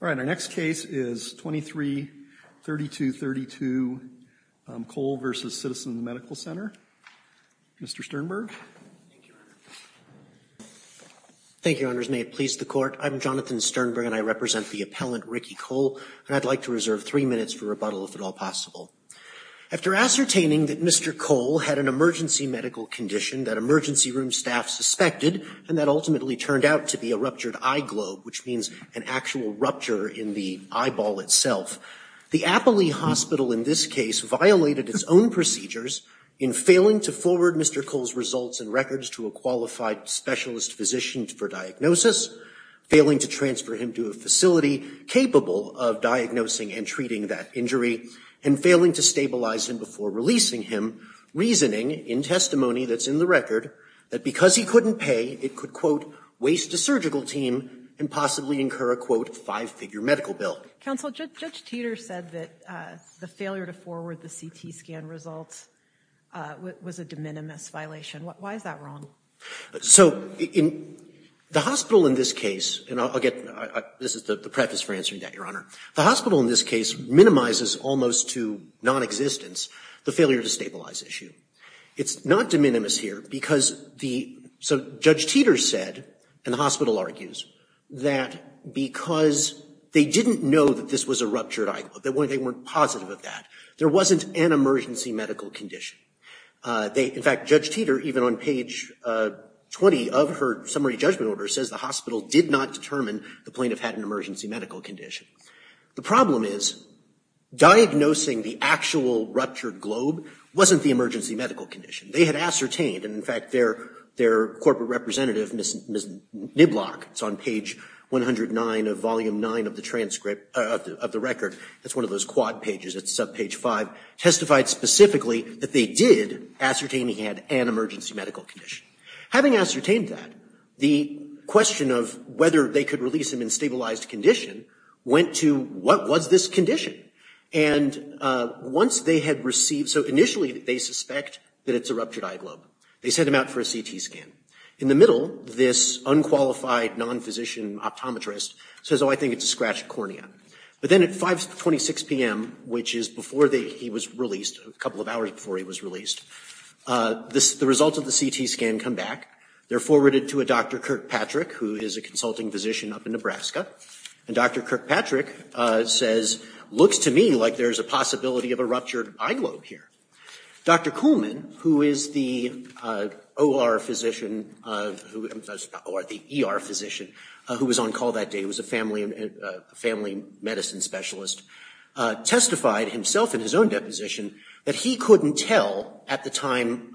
All right, our next case is 23-3232, Koel v. Citizens Medical Center. Mr. Sternberg. Thank you, Your Honor. Thank you, Your Honors. May it please the Court, I'm Jonathan Sternberg and I represent the appellant Ricky Koel, and I'd like to reserve three minutes for rebuttal, if at all possible. After ascertaining that Mr. Koel had an emergency medical condition that emergency room staff suspected, and that ultimately turned out to be a ruptured eye globe, which means an actual rupture in the eyeball itself, the Appley Hospital in this case violated its own procedures in failing to forward Mr. Koel's results and records to a qualified specialist physician for diagnosis, failing to transfer him to a facility capable of diagnosing and treating that injury, and failing to stabilize him before releasing him, reasoning in testimony that's in the record that because he couldn't pay, it could, quote, waste a surgical team and possibly incur a, quote, five-figure medical bill. Counsel, Judge Teter said that the failure to forward the CT scan results was a de minimis violation. Why is that wrong? So in the hospital in this case, and I'll get, this is the preface for answering that, Your Honor. The hospital in this case minimizes almost to nonexistence the failure to stabilize issue. It's not de minimis here because the, so Judge Teter said, and the hospital argues, that because they didn't know that this was a ruptured eyeball, they weren't positive of that, there wasn't an emergency medical condition. They, in fact, Judge Teter, even on page 20 of her summary judgment order, says the hospital did not determine the plaintiff had an emergency medical condition. The problem is diagnosing the actual ruptured globe wasn't the emergency medical condition. They had ascertained, and in fact, their corporate representative, Ms. Niblock, it's on page 109 of volume 9 of the transcript, of the record, that's one of those quad pages, it's subpage 5, testified specifically that they did ascertain he had an emergency medical condition. Having ascertained that, the question of whether they could release him in stabilized condition went to, what was this condition? And once they had received, so initially they suspect that it's a ruptured eye globe. They sent him out for a CT scan. In the middle, this unqualified non-physician optometrist says, oh, I think it's a scratched cornea. But then at 5.26 p.m., which is before he was released, a couple of hours before he was released, the results of the CT scan come back. They're forwarded to a Dr. Kirkpatrick, who is a consulting physician up in Nebraska. And Dr. Kirkpatrick says, looks to me like there's a possibility of a ruptured eye globe here. Dr. Kuhlman, who is the OR physician, or the ER physician, who was on call that day, was a family medicine specialist, testified himself in his own deposition that he couldn't tell at the time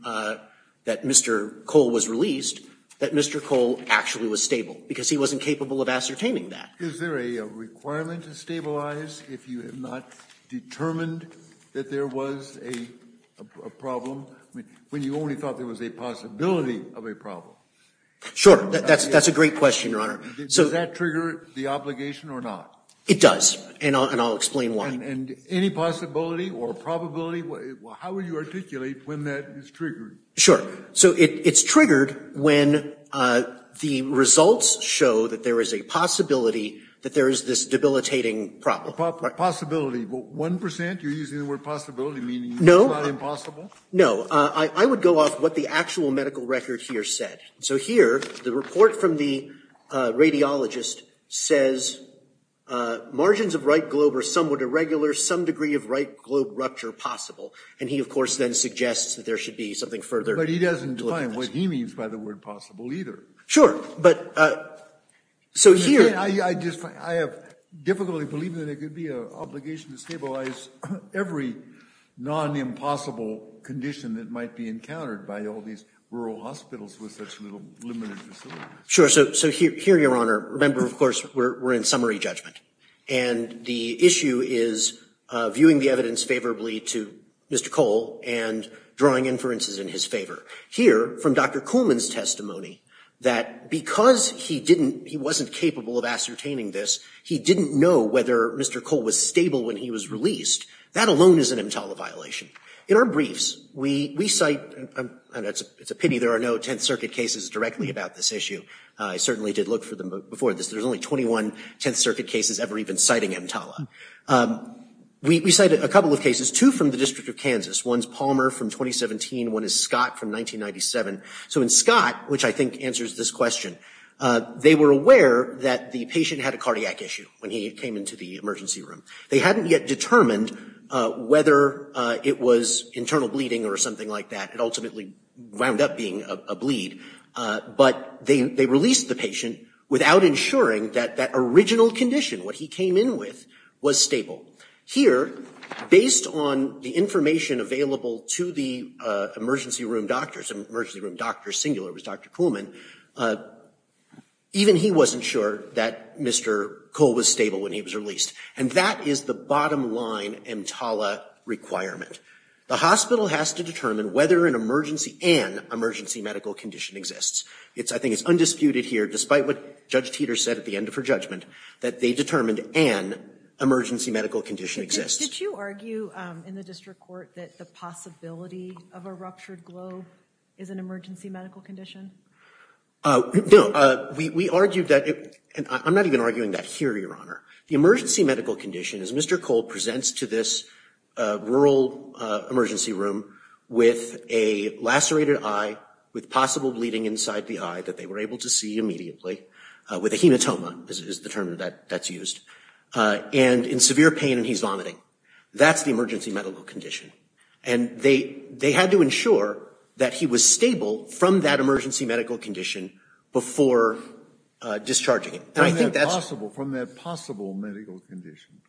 that Mr. Cole was released that Mr. Cole actually was stable, because he wasn't capable of ascertaining that. Is there a requirement to stabilize if you have not determined that there was a problem? I mean, when you only thought there was a possibility of a problem. Sure. That's a great question, Your Honor. Does that trigger the obligation or not? It does, and I'll explain why. And any possibility or probability, how would you articulate when that is triggered? Sure. So it's triggered when the results show that there is a possibility that there is this debilitating problem. Possibility. One percent, you're using the word possibility, meaning it's not impossible? No. I would go off what the actual medical record here said. So here, the report from the radiologist says, margins of right globe are somewhat irregular, some degree of right globe rupture possible. And he, of course, then suggests that there should be something further. But he doesn't define what he means by the word possible, either. But so here. I just, I have difficulty believing that it could be an obligation to stabilize every non-impossible condition that might be encountered by all these rural hospitals with such limited facilities. Sure. So here, Your Honor, remember, of course, we're in summary judgment. And the issue is viewing the evidence favorably to Mr. Cole and drawing inferences in his favor. Here, from Dr. Kuhlman's testimony, that because he didn't, he wasn't capable of ascertaining this, he didn't know whether Mr. Cole was stable when he was released. That alone is an EMTALA violation. In our briefs, we cite, and it's a pity there are no Tenth Circuit cases directly about this issue. I certainly did look for them before this. There's only 21 Tenth Circuit cases ever even citing EMTALA. We cited a couple of cases, two from the District of Kansas. One's Palmer from 2017, one is Scott from 1997. So in Scott, which I think answers this question, they were aware that the patient had a cardiac issue when he came into the emergency room. They hadn't yet determined whether it was internal bleeding or something like that. It ultimately wound up being a bleed. But they released the patient without ensuring that that original condition, what he came in with, was stable. Here, based on the information available to the emergency room doctors, emergency room doctors, singular was Dr. Kuhlman, even he wasn't sure that Mr. Cole was stable when he was released. And that is the bottom line EMTALA requirement. The hospital has to determine whether an emergency and emergency medical condition exists. I think it's undisputed here, despite what Judge Teeter said at the end of her judgment, that they determined an emergency medical condition exists. Did you argue in the district court that the possibility of a ruptured globe is an emergency medical condition? No. We argued that — I'm not even arguing that here, Your Honor. The emergency medical condition is Mr. Cole presents to this rural emergency room with a lacerated eye, with possible bleeding inside the eye that they were able to see immediately, with a hematoma is the term that's used, and in severe pain and he's vomiting. That's the emergency medical condition. And they had to ensure that he was stable from that emergency medical condition before discharging him. From that possible medical condition?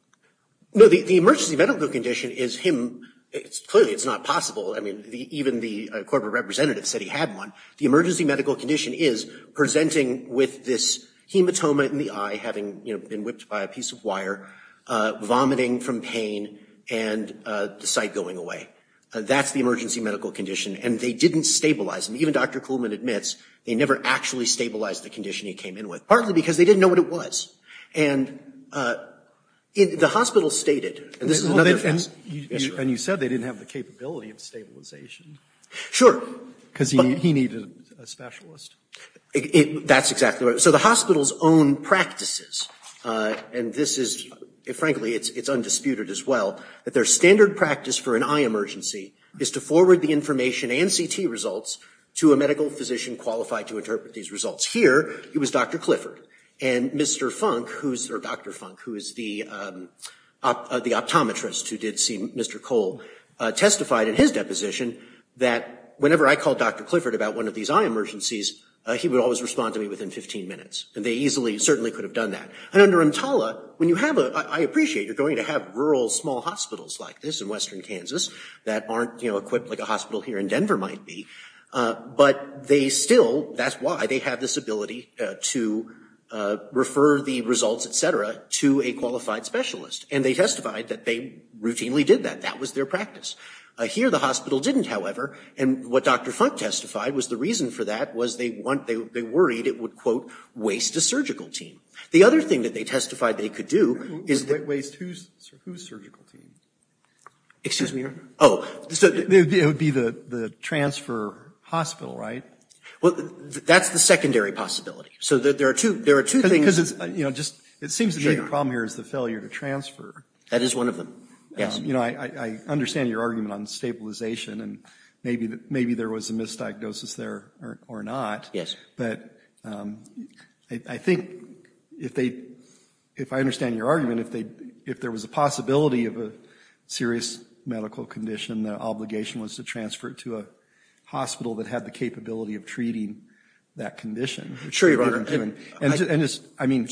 No, the emergency medical condition is him — clearly it's not possible. I mean, even the corporate representative said he had one. The emergency medical condition is presenting with this hematoma in the eye, having been whipped by a piece of wire, vomiting from pain, and the sight going away. That's the emergency medical condition. And they didn't stabilize him. Even Dr. Kuhlman admits they never actually stabilized the condition he came in with, partly because they didn't know what it was. And the hospital stated — And you said they didn't have the capability of stabilization. Sure. Because he needed a specialist. That's exactly right. So the hospital's own practices, and this is, frankly, it's undisputed as well, that their standard practice for an eye emergency is to forward the information and CT results to a medical physician qualified to interpret these results. Here, it was Dr. Clifford. And Mr. Funk, who's — or Dr. Funk, who is the optometrist who did see Mr. Kuhl, testified in his deposition that whenever I called Dr. Clifford about one of these eye emergencies, he would always respond to me within 15 minutes. And they easily, certainly could have done that. And under EMTALA, when you have a — I appreciate you're going to have rural, small hospitals like this in western Kansas that aren't, you know, equipped like a hospital here in Denver might be, but they still — that's why they have this ability to refer the results, et cetera, to a qualified specialist. And they testified that they routinely did that. That was their practice. Here, the hospital didn't, however, and what Dr. Funk testified was the reason for that was they wanted — they worried it would, quote, waste a surgical team. The other thing that they testified they could do is — Waste whose surgical team? Excuse me? Oh. It would be the transfer hospital, right? Well, that's the secondary possibility. So there are two things — Because it's, you know, just — it seems to me the problem here is the failure to transfer. That is one of them. Yes. You know, I understand your argument on stabilization and maybe there was a misdiagnosis there or not. Yes. But I think if they — if I understand your argument, if there was a possibility of a serious medical condition, the obligation was to transfer it to a hospital that had the capability of treating that condition. Sure, Your Honor. And just — I mean,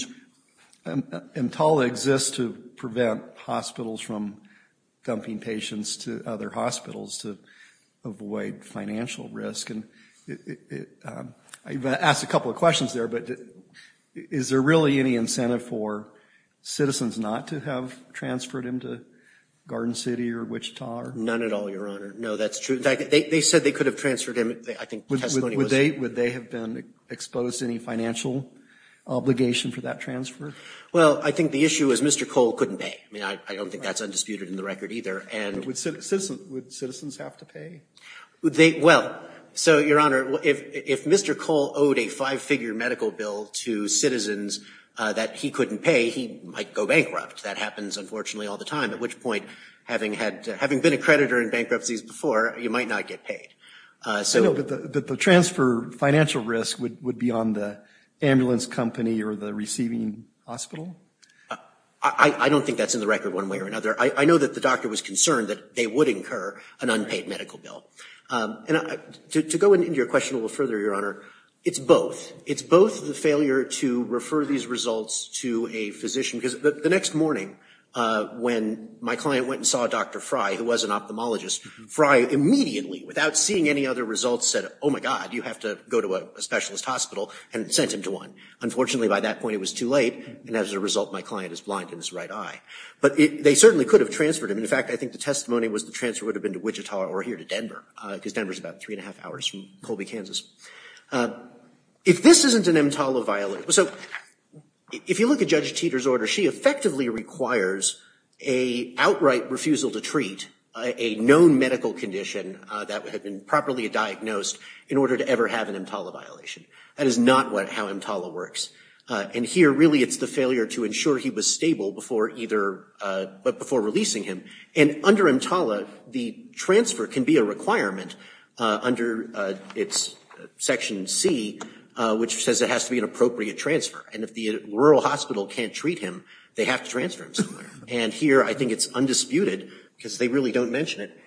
EMTALA exists to prevent hospitals from dumping patients to other hospitals to avoid financial risk. And I asked a couple of questions there, but is there really any incentive for citizens not to have transferred him to Garden City or Wichita or — None at all, Your Honor. No, that's true. They said they could have transferred him. I think testimony was — Would they have been exposed to any financial obligation for that transfer? Well, I think the issue is Mr. Cole couldn't pay. I mean, I don't think that's undisputed in the record either. And — Would citizens have to pay? Would they — well, so, Your Honor, if Mr. Cole owed a five-figure medical bill to citizens that he couldn't pay, he might go bankrupt. That happens, unfortunately, all the time, at which point, having had — having been a creditor in bankruptcies before, you might not get paid. So — I know, but the transfer financial risk would be on the ambulance company or the receiving hospital? I don't think that's in the record one way or another. I know that the doctor was concerned that they would incur an unpaid medical bill. And to go into your question a little further, Your Honor, it's both. It's both the failure to refer these results to a physician — because the next morning when my client went and saw Dr. Fry, who was an ophthalmologist, Fry immediately, without seeing any other results, said, oh, my God, you have to go to a specialist hospital, and sent him to one. Unfortunately, by that point, it was too late, and as a result, my client is blind in his right eye. But they certainly could have transferred him. In fact, I think the testimony was the transfer would have been to Wichita or here to Denver, because Denver's about three and a half hours from Colby, Kansas. If this isn't an EMTALA violation — so, if you look at Judge Teeter's order, she effectively requires an outright refusal to treat a known medical condition that would have been properly diagnosed in order to ever have an EMTALA violation. That is not how EMTALA works. And here, really, it's the failure to ensure he was stable before either — but before releasing him. And under EMTALA, the transfer can be a requirement under its Section C, which says it has to be an appropriate transfer. And if the rural hospital can't treat him, they have to transfer him somewhere. And here, I think it's undisputed, because they really don't mention it.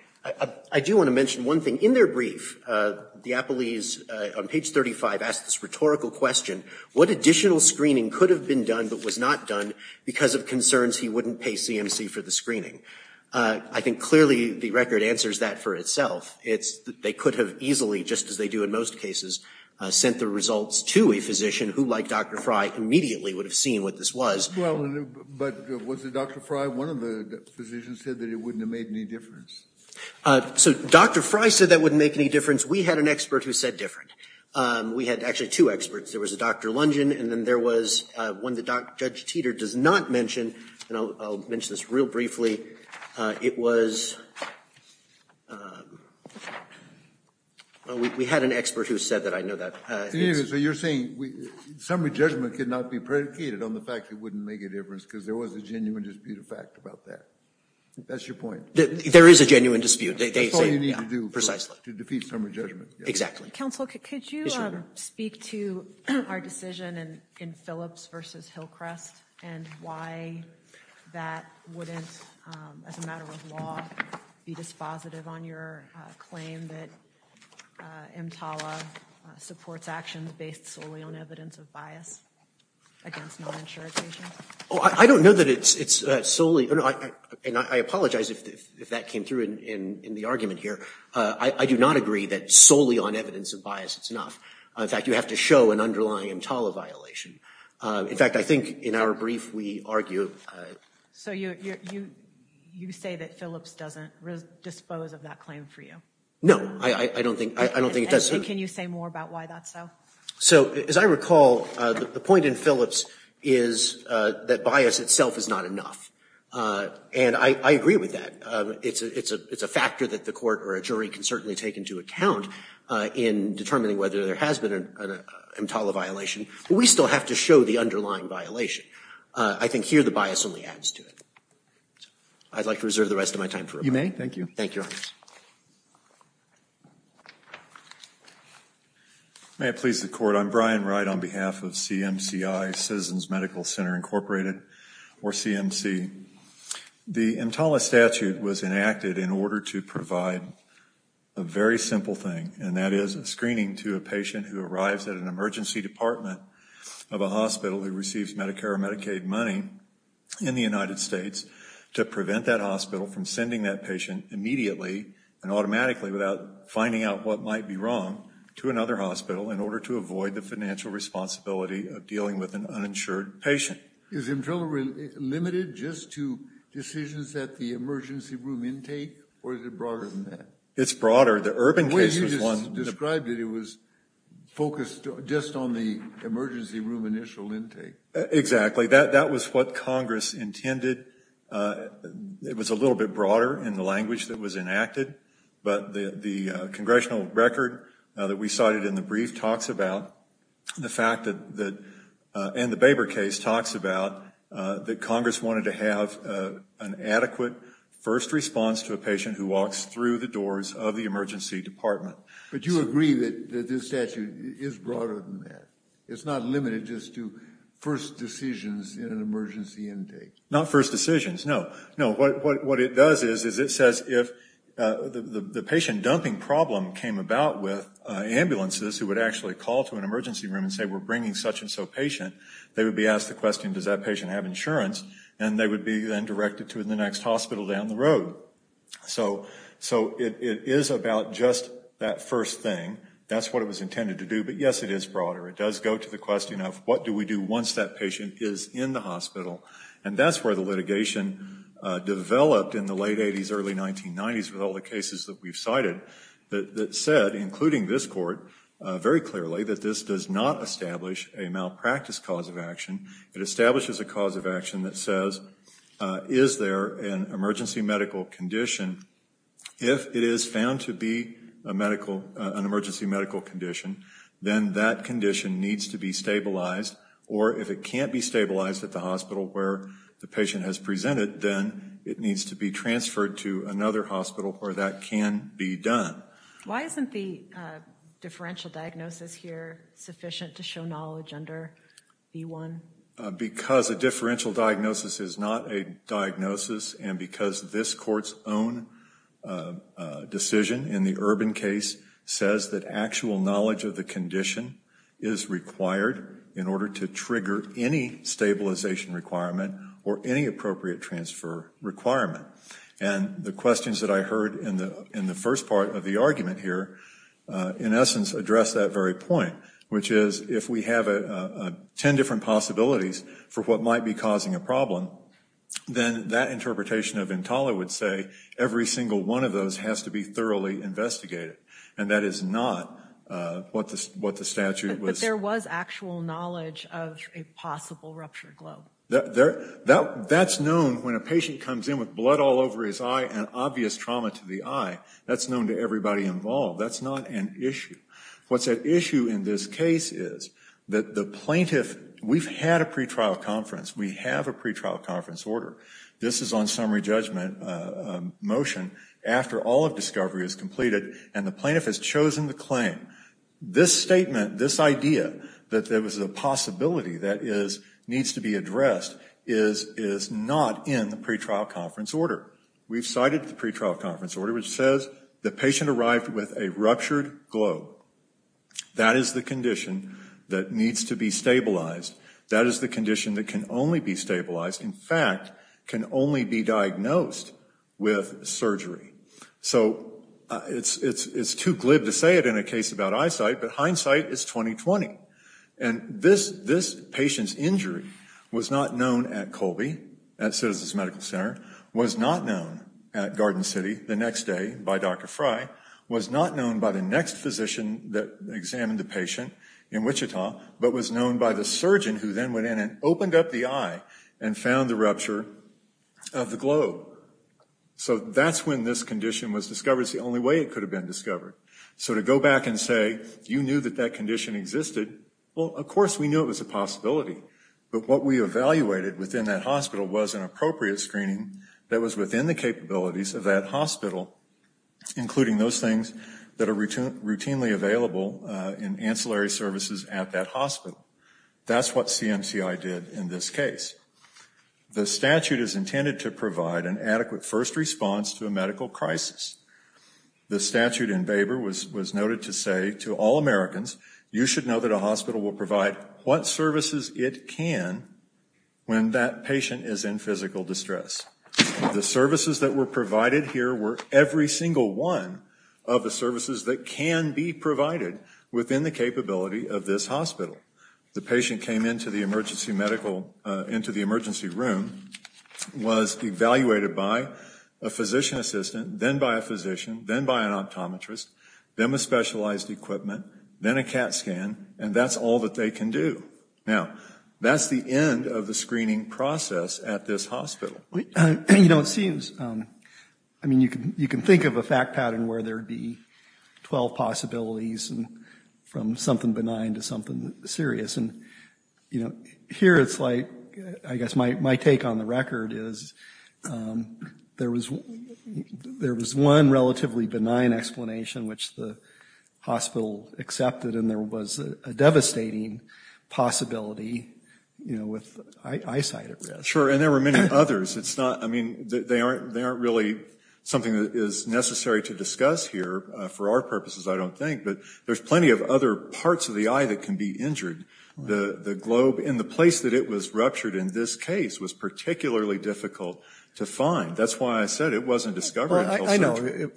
I do want to mention one thing. In their brief, the appellees, on page 35, ask this rhetorical question. What additional screening could have been done but was not done because of concerns he wouldn't pay CMC for the screening? I think, clearly, the record answers that for itself. It's — they could have easily, just as they do in most cases, sent the results to a physician who, like Dr. Fry, immediately would have seen what this was. Well, but was it Dr. Fry? One of the physicians said that it wouldn't have made any difference. TALA. So, Dr. Fry said that wouldn't make any difference. We had an expert who said different. We had, actually, two experts. There was a Dr. Lundgen, and then there was one that Judge Teeter does not mention. And I'll mention this real briefly. It was — we had an expert who said that. I know that. In any case, so you're saying summary judgment could not be predicated on the fact it wouldn't make a difference because there was a genuine dispute of fact about that. That's your point. There is a genuine dispute. That's all you need to do to defeat summary judgment. Counsel, could you speak to our decision in Phillips v. Hillcrest and why that wouldn't, as a matter of law, be dispositive on your claim that MTALA supports actions based solely on evidence of bias against non-insured patients? Oh, I don't know that it's solely — and I apologize if that came through in the argument here. I do not agree that solely on evidence of bias it's enough. In fact, you have to show an underlying MTALA violation. In fact, I think in our brief we argue — So you say that Phillips doesn't dispose of that claim for you? No. I don't think it does. And can you say more about why that's so? So as I recall, the point in Phillips is that bias itself is not enough. And I agree with that. It's a factor that the court or a jury can certainly take into account in determining whether there has been an MTALA violation. But we still have to show the underlying violation. I think here the bias only adds to it. I'd like to reserve the rest of my time for rebuttal. You may. Thank you. Thank you, Your Honor. May it please the Court, I'm Brian Wright on behalf of CMCI, Citizens Medical Center Incorporated, or CMC. The MTALA statute was enacted in order to provide a very simple thing. And that is a screening to a patient who arrives at an emergency department of a hospital who receives Medicare or Medicaid money in the United States to prevent that hospital from sending that patient immediately and automatically without finding out what might be wrong to another hospital in order to avoid the financial responsibility of dealing with an uninsured patient. Is MTALA limited just to decisions at the emergency room intake, or is it broader than that? It's broader. The Urban case was one. The way you just described it, it was focused just on the emergency room initial intake. Exactly. That was what Congress intended. It was a little bit broader in the language that was enacted. But the congressional record that we cited in the brief talks about the fact that, and the Baber case talks about that Congress wanted to have an adequate first response to a patient who walks through the doors of the emergency department. But you agree that this statute is broader than that? It's not limited just to first decisions in an emergency intake? Not first decisions. No. No. What it does is it says if the patient dumping problem came about with ambulances who would actually call to an emergency room and say, we're bringing such and so patient, they would be asked the question, does that patient have insurance? And they would be then directed to the next hospital down the road. So it is about just that first thing. That's what it was intended to do. But yes, it is broader. It does go to the question of what do we do once that patient is in the hospital? And that's where the litigation developed in the late 80s, early 1990s with all the cases that we've cited, that said, including this court, very clearly, that this does not establish a malpractice cause of action. It establishes a cause of action that says, is there an emergency medical condition? If it is found to be a medical, an emergency medical condition, then that condition needs to be stabilized, or if it can't be stabilized at the hospital where the patient has presented, then it needs to be transferred to another hospital where that can be done. Why isn't the differential diagnosis here sufficient to show knowledge under B-1? Because a differential diagnosis is not a diagnosis, and because this court's own decision in the Urban case says that actual knowledge of the condition is required in order to trigger any stabilization requirement or any appropriate transfer requirement. And the questions that I heard in the first part of the argument here, in essence, address that very point, which is, if we have ten different possibilities for what might be causing a problem, then that interpretation of Intala would say every single one of those has to be thoroughly investigated, and that is not what the statute was. But there was actual knowledge of a possible rupture globe. That's known when a patient comes in with blood all over his eye and obvious trauma to the eye. That's known to everybody involved. That's not an issue. What's at issue in this case is that the plaintiff, we've had a pretrial conference, we have a pretrial conference order. This is on summary judgment motion after all of discovery is completed, and the plaintiff has chosen the claim. This statement, this idea that there was a possibility that needs to be addressed is not in the pretrial conference order. We've cited the pretrial conference order, which says the patient arrived with a ruptured globe. That is the condition that needs to be stabilized. That is the condition that can only be stabilized, in fact, can only be diagnosed with surgery. So it's too glib to say it in a case about eyesight, but hindsight is 20-20. And this patient's injury was not known at Colby, at Citizens Medical Center, was not known at Garden City the next day by Dr. Frey, was not known by the next physician that examined the patient in Wichita, but was known by the surgeon who then went in and opened up the eye and found the rupture of the globe. So that's when this condition was discovered. It's the only way it could have been discovered. So to go back and say, you knew that that condition existed, well, of course we knew it was a possibility. But what we evaluated within that hospital was an appropriate screening that was within the capabilities of that hospital, including those things that are routinely available in ancillary services at that hospital. That's what CMCI did in this case. The statute is intended to provide an adequate first response to a medical crisis. The statute in Baber was noted to say to all Americans, you should know that a hospital will provide what services it can when that patient is in physical distress. The services that were provided here were every single one of the services that can be provided within the capability of this hospital. The patient came into the emergency medical, into the emergency room, was evaluated by a physician assistant, then by a physician, then by an optometrist, then with specialized equipment, then a CAT scan, and that's all that they can do. Now, that's the end of the screening process at this hospital. You know, it seems, I mean, you can think of a fact pattern where there would be 12 possibilities from something benign to something serious. And, you know, here it's like, I guess my take on the record is there was one relatively benign explanation, which the hospital accepted, and there was a devastating possibility, you know, with eyesight at risk. Sure, and there were many others. It's not, I mean, they aren't really something that is necessary to discuss here. For our purposes, I don't think, but there's plenty of other parts of the eye that can be injured. The globe in the place that it was ruptured in this case was particularly difficult to find. That's why I said it wasn't discovered until surgery. Well, I know.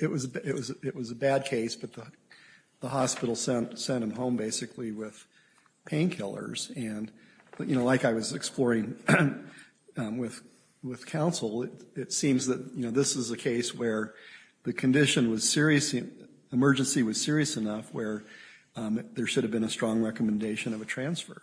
It was a bad case, but the hospital sent him home, basically, with painkillers. And, you know, like I was exploring with counsel, it seems that, you know, this is a case where the condition was serious, the emergency was serious enough where there should have been a strong recommendation of a transfer.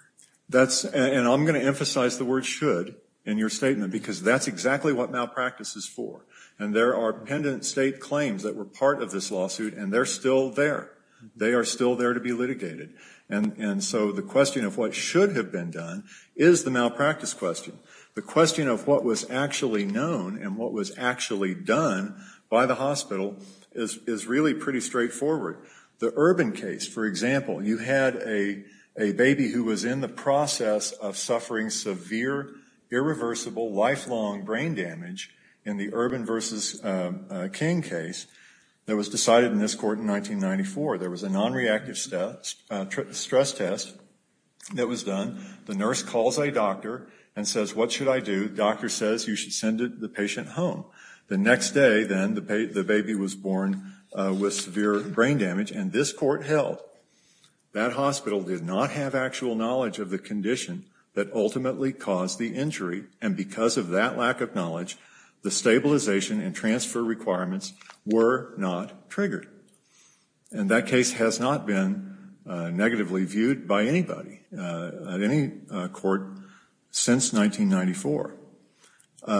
That's, and I'm going to emphasize the word should in your statement, because that's exactly what malpractice is for. And there are pendent state claims that were part of this lawsuit, and they're still there. They are still there to be litigated. And so the question of what should have been done is the malpractice question. The question of what was actually known and what was actually done by the hospital is really pretty straightforward. The Urban case, for example, you had a baby who was in the process of suffering severe, irreversible, lifelong brain damage in the Urban versus King case that was decided in this court in 1994. There was a nonreactive stress test that was done. The nurse calls a doctor and says, what should I do? The doctor says, you should send the patient home. The next day, then, the baby was born with severe brain damage, and this court held. That hospital did not have actual knowledge of the condition that ultimately caused the injury, and because of that lack of knowledge, the stabilization and transfer requirements were not triggered. And that case has not been negatively viewed by anybody at any court since 1994.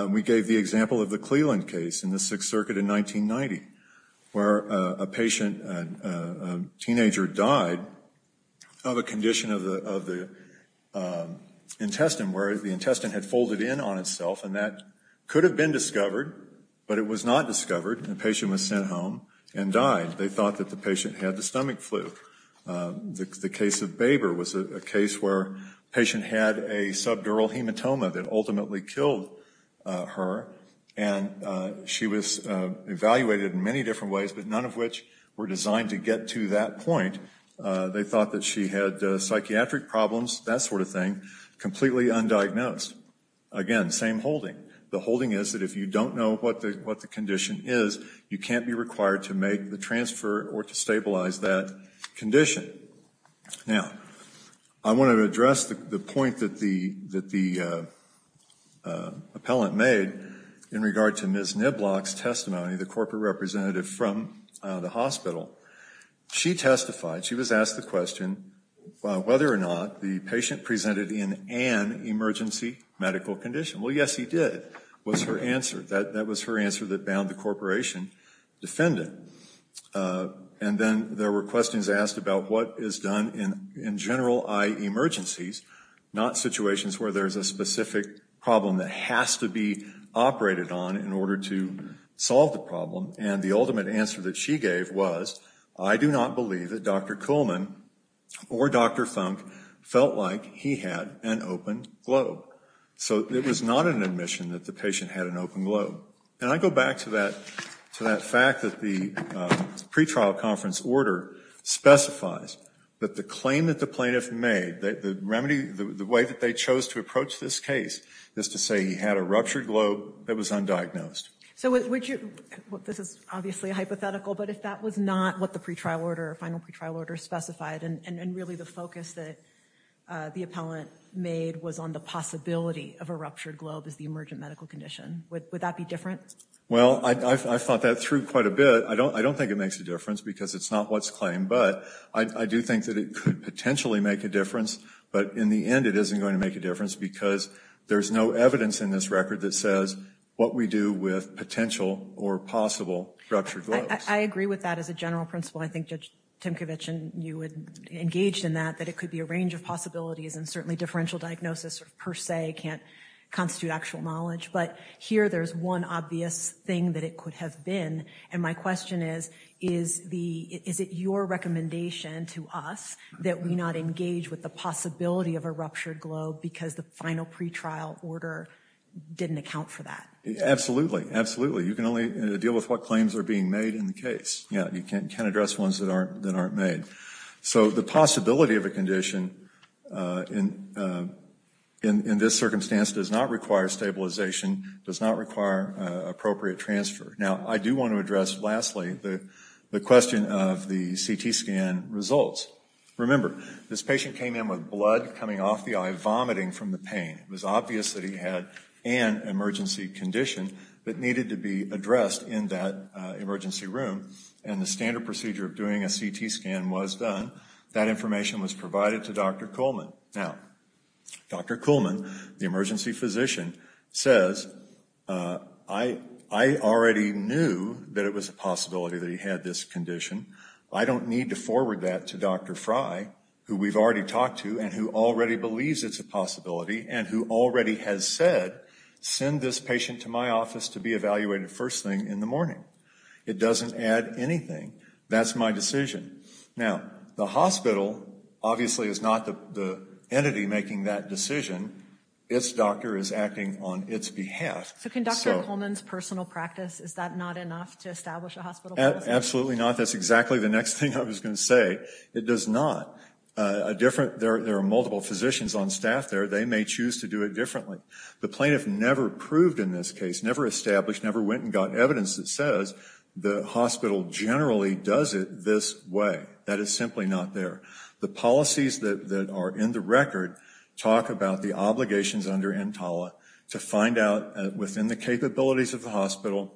We gave the example of the Cleland case in the Sixth Circuit in 1990, where a patient, a teenager, died of a condition of the intestine where the intestine had folded in on itself, and that could have been discovered, but it was not discovered. The patient was sent home and died. They thought that the patient had the stomach flu. The case of Baber was a case where a patient had a subdural hematoma that ultimately killed her, and she was evaluated in many different ways, but none of which were designed to get to that point. They thought that she had psychiatric problems, that sort of thing, completely undiagnosed. Again, same holding. The holding is that if you don't know what the condition is, you can't be required to make the transfer or to stabilize that condition. Now, I want to address the point that the appellant made in regard to Ms. Niblock's testimony, the corporate representative from the hospital. She testified, she was asked the question whether or not the patient presented in an emergency medical condition. Well, yes, he did, was her answer. That was her answer that bound the corporation defendant, and then there were questions asked about what is done in general eye emergencies, not situations where there's a specific problem that has to be operated on in order to solve the problem, and the ultimate answer that she gave was, I do not believe that Dr. Kuhlman or Dr. Funk felt like he had an open globe. So it was not an admission that the patient had an open globe. And I go back to that fact that the pretrial conference order specifies that the claim that the plaintiff made, the remedy, the way that they chose to approach this case is to say he had a ruptured globe that was undiagnosed. So would you, this is obviously a hypothetical, but if that was not what the pretrial order, final pretrial order specified, and really the focus that the appellant made was on the possibility of a ruptured globe as the emergent medical condition, would that be different? Well, I thought that through quite a bit. I don't think it makes a difference because it's not what's claimed, but I do think that it could potentially make a difference, but in the end it isn't going to make a difference because there's no evidence in this record that says what we do with potential or possible ruptured globes. I agree with that as a general principle. I think Judge Timkovich and you would engage in that, that it could be a range of possibilities and certainly differential diagnosis per se can't constitute actual knowledge. But here there's one obvious thing that it could have been, and my question is, is it your recommendation to us that we not engage with the possibility of a ruptured globe because the final pretrial order didn't account for that? Absolutely, absolutely. You can only deal with what claims are being made in the case. You can't address ones that aren't made. So the possibility of a condition in this circumstance does not require stabilization, does not require appropriate transfer. Now, I do want to address lastly the question of the CT scan results. Remember, this patient came in with blood coming off the eye, vomiting from the pain. It was obvious that he had an emergency condition that needed to be addressed in that emergency room, and the standard procedure of doing a CT scan was done. That information was provided to Dr. Kuhlman. Now, Dr. Kuhlman, the emergency physician, says, I already knew that it was a possibility that he had this condition. I don't need to forward that to Dr. Frye, who we've already talked to and who already believes it's a possibility and who already has said, send this patient to my office to be evaluated first thing in the morning. It doesn't add anything. That's my decision. Now, the hospital obviously is not the entity making that decision. Its doctor is acting on its behalf. So can Dr. Kuhlman's personal practice, is that not enough to establish a hospital policy? Absolutely not. That's exactly the next thing I was going to say. It does not. There are multiple physicians on staff there. They may choose to do it differently. The plaintiff never proved in this case, never established, never went and got evidence that says the hospital generally does it this way. That is simply not there. The policies that are in the record talk about the obligations under EMTALA to find out within the capabilities of the hospital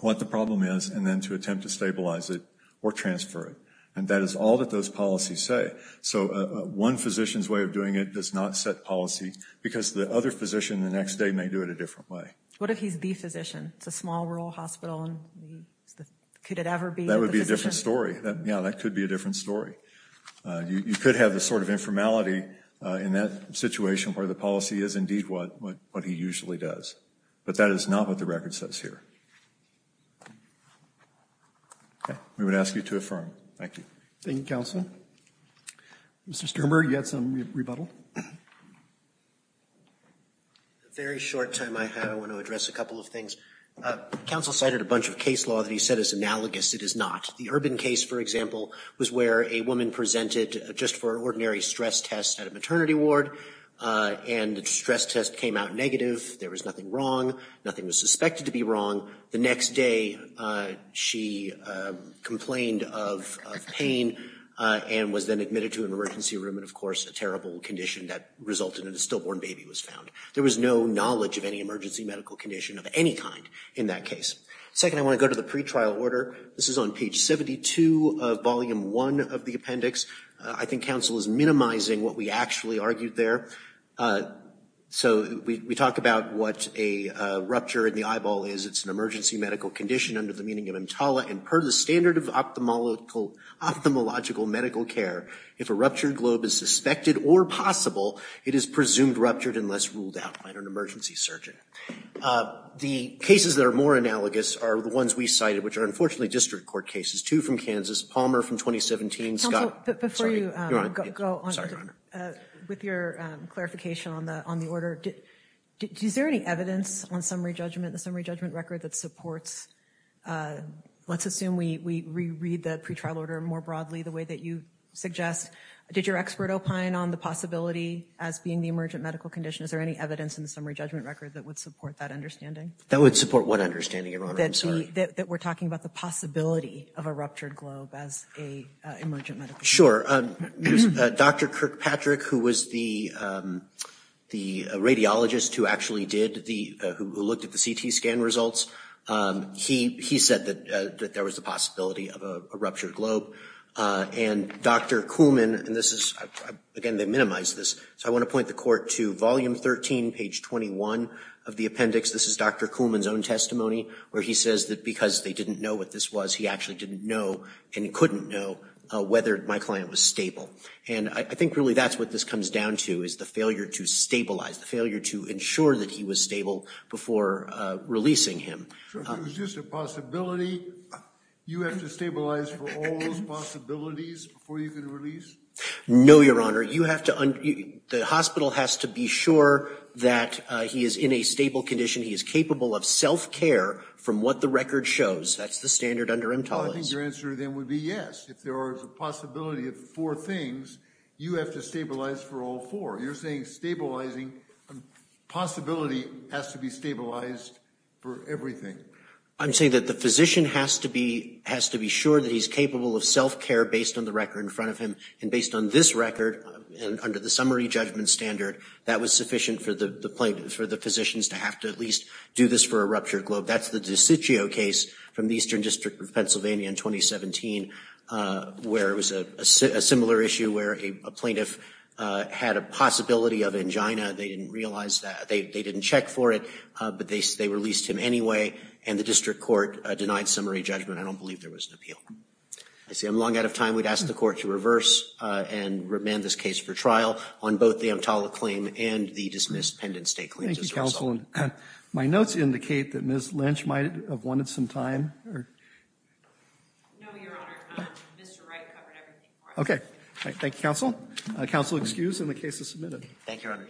what the problem is and then to attempt to stabilize it or transfer it. And that is all that those policies say. So one physician's way of doing it does not set policy because the other physician the next day may do it a different way. What if he's the physician? It's a small rural hospital. Could it ever be the physician? That would be a different story. Yeah, that could be a different story. You could have the sort of informality in that situation where the policy is indeed what he usually does. But that is not what the record says here. We would ask you to affirm. Thank you. Thank you, Counselor. Mr. Sternberg, you had some rebuttal? A very short time I have. I want to address a couple of things. Counsel cited a bunch of case law that he said is analogous. It is not. The Urban case, for example, was where a woman presented just for an ordinary stress test at a maternity ward and the stress test came out negative. There was nothing wrong. Nothing was suspected to be wrong. The next day she complained of pain and was then admitted to an emergency room in, of condition that resulted in a stillborn baby was found. There was no knowledge of any emergency medical condition of any kind in that case. Second, I want to go to the pretrial order. This is on page 72 of volume 1 of the appendix. I think Counsel is minimizing what we actually argued there. So we talk about what a rupture in the eyeball is. It's an emergency medical condition under the meaning of EMTALA and per the standard of ophthalmological medical care. If a ruptured globe is suspected or possible, it is presumed ruptured unless ruled out by an emergency surgeon. The cases that are more analogous are the ones we cited, which are unfortunately district court cases. Two from Kansas. Palmer from 2017. Counsel, before you go on with your clarification on the order, is there any evidence on summary judgment, the summary judgment record that supports, let's assume we reread the pretrial order more broadly the way that you suggest. Did your expert opine on the possibility as being the emergent medical condition? Is there any evidence in the summary judgment record that would support that understanding? That would support what understanding, Your Honor? I'm sorry. That we're talking about the possibility of a ruptured globe as a emergent medical condition. Sure. Dr. Kirkpatrick, who was the radiologist who actually did the, who looked at the CT scan results, he said that there was a possibility of a ruptured globe. And Dr. Kuhlman, and this is, again, they minimized this. So I want to point the court to volume 13, page 21 of the appendix. This is Dr. Kuhlman's own testimony where he says that because they didn't know what this was, he actually didn't know and couldn't know whether my client was stable. And I think really that's what this comes down to is the failure to stabilize, the failure to ensure that he was stable before releasing him. Sure. If it was just a possibility, you have to stabilize for all those possibilities before you can release? No, Your Honor. You have to, the hospital has to be sure that he is in a stable condition. He is capable of self-care from what the record shows. That's the standard under EMTALA. Well, I think your answer then would be yes. If there is a possibility of four things, you have to stabilize for all four. You're saying stabilizing, possibility has to be stabilized for everything. I'm saying that the physician has to be sure that he's capable of self-care based on the record in front of him. And based on this record, under the summary judgment standard, that was sufficient for the physicians to have to at least do this for a ruptured globe. That's the DiCiccio case from the Eastern District of Pennsylvania in 2017, where it was a similar issue where a plaintiff had a possibility of angina. They didn't realize that. They didn't check for it, but they released him anyway. And the district court denied summary judgment. I don't believe there was an appeal. I see I'm long out of time. We'd ask the court to reverse and remand this case for trial on both the EMTALA claim and the dismissed Pendant State claims as a result. Thank you, Counsel. My notes indicate that Ms. Lynch might have wanted some time. No, Your Honor. Mr. Wright covered everything for us. Okay. Thank you, Counsel. Counsel excused and the case is submitted. Thank you, Your Honor.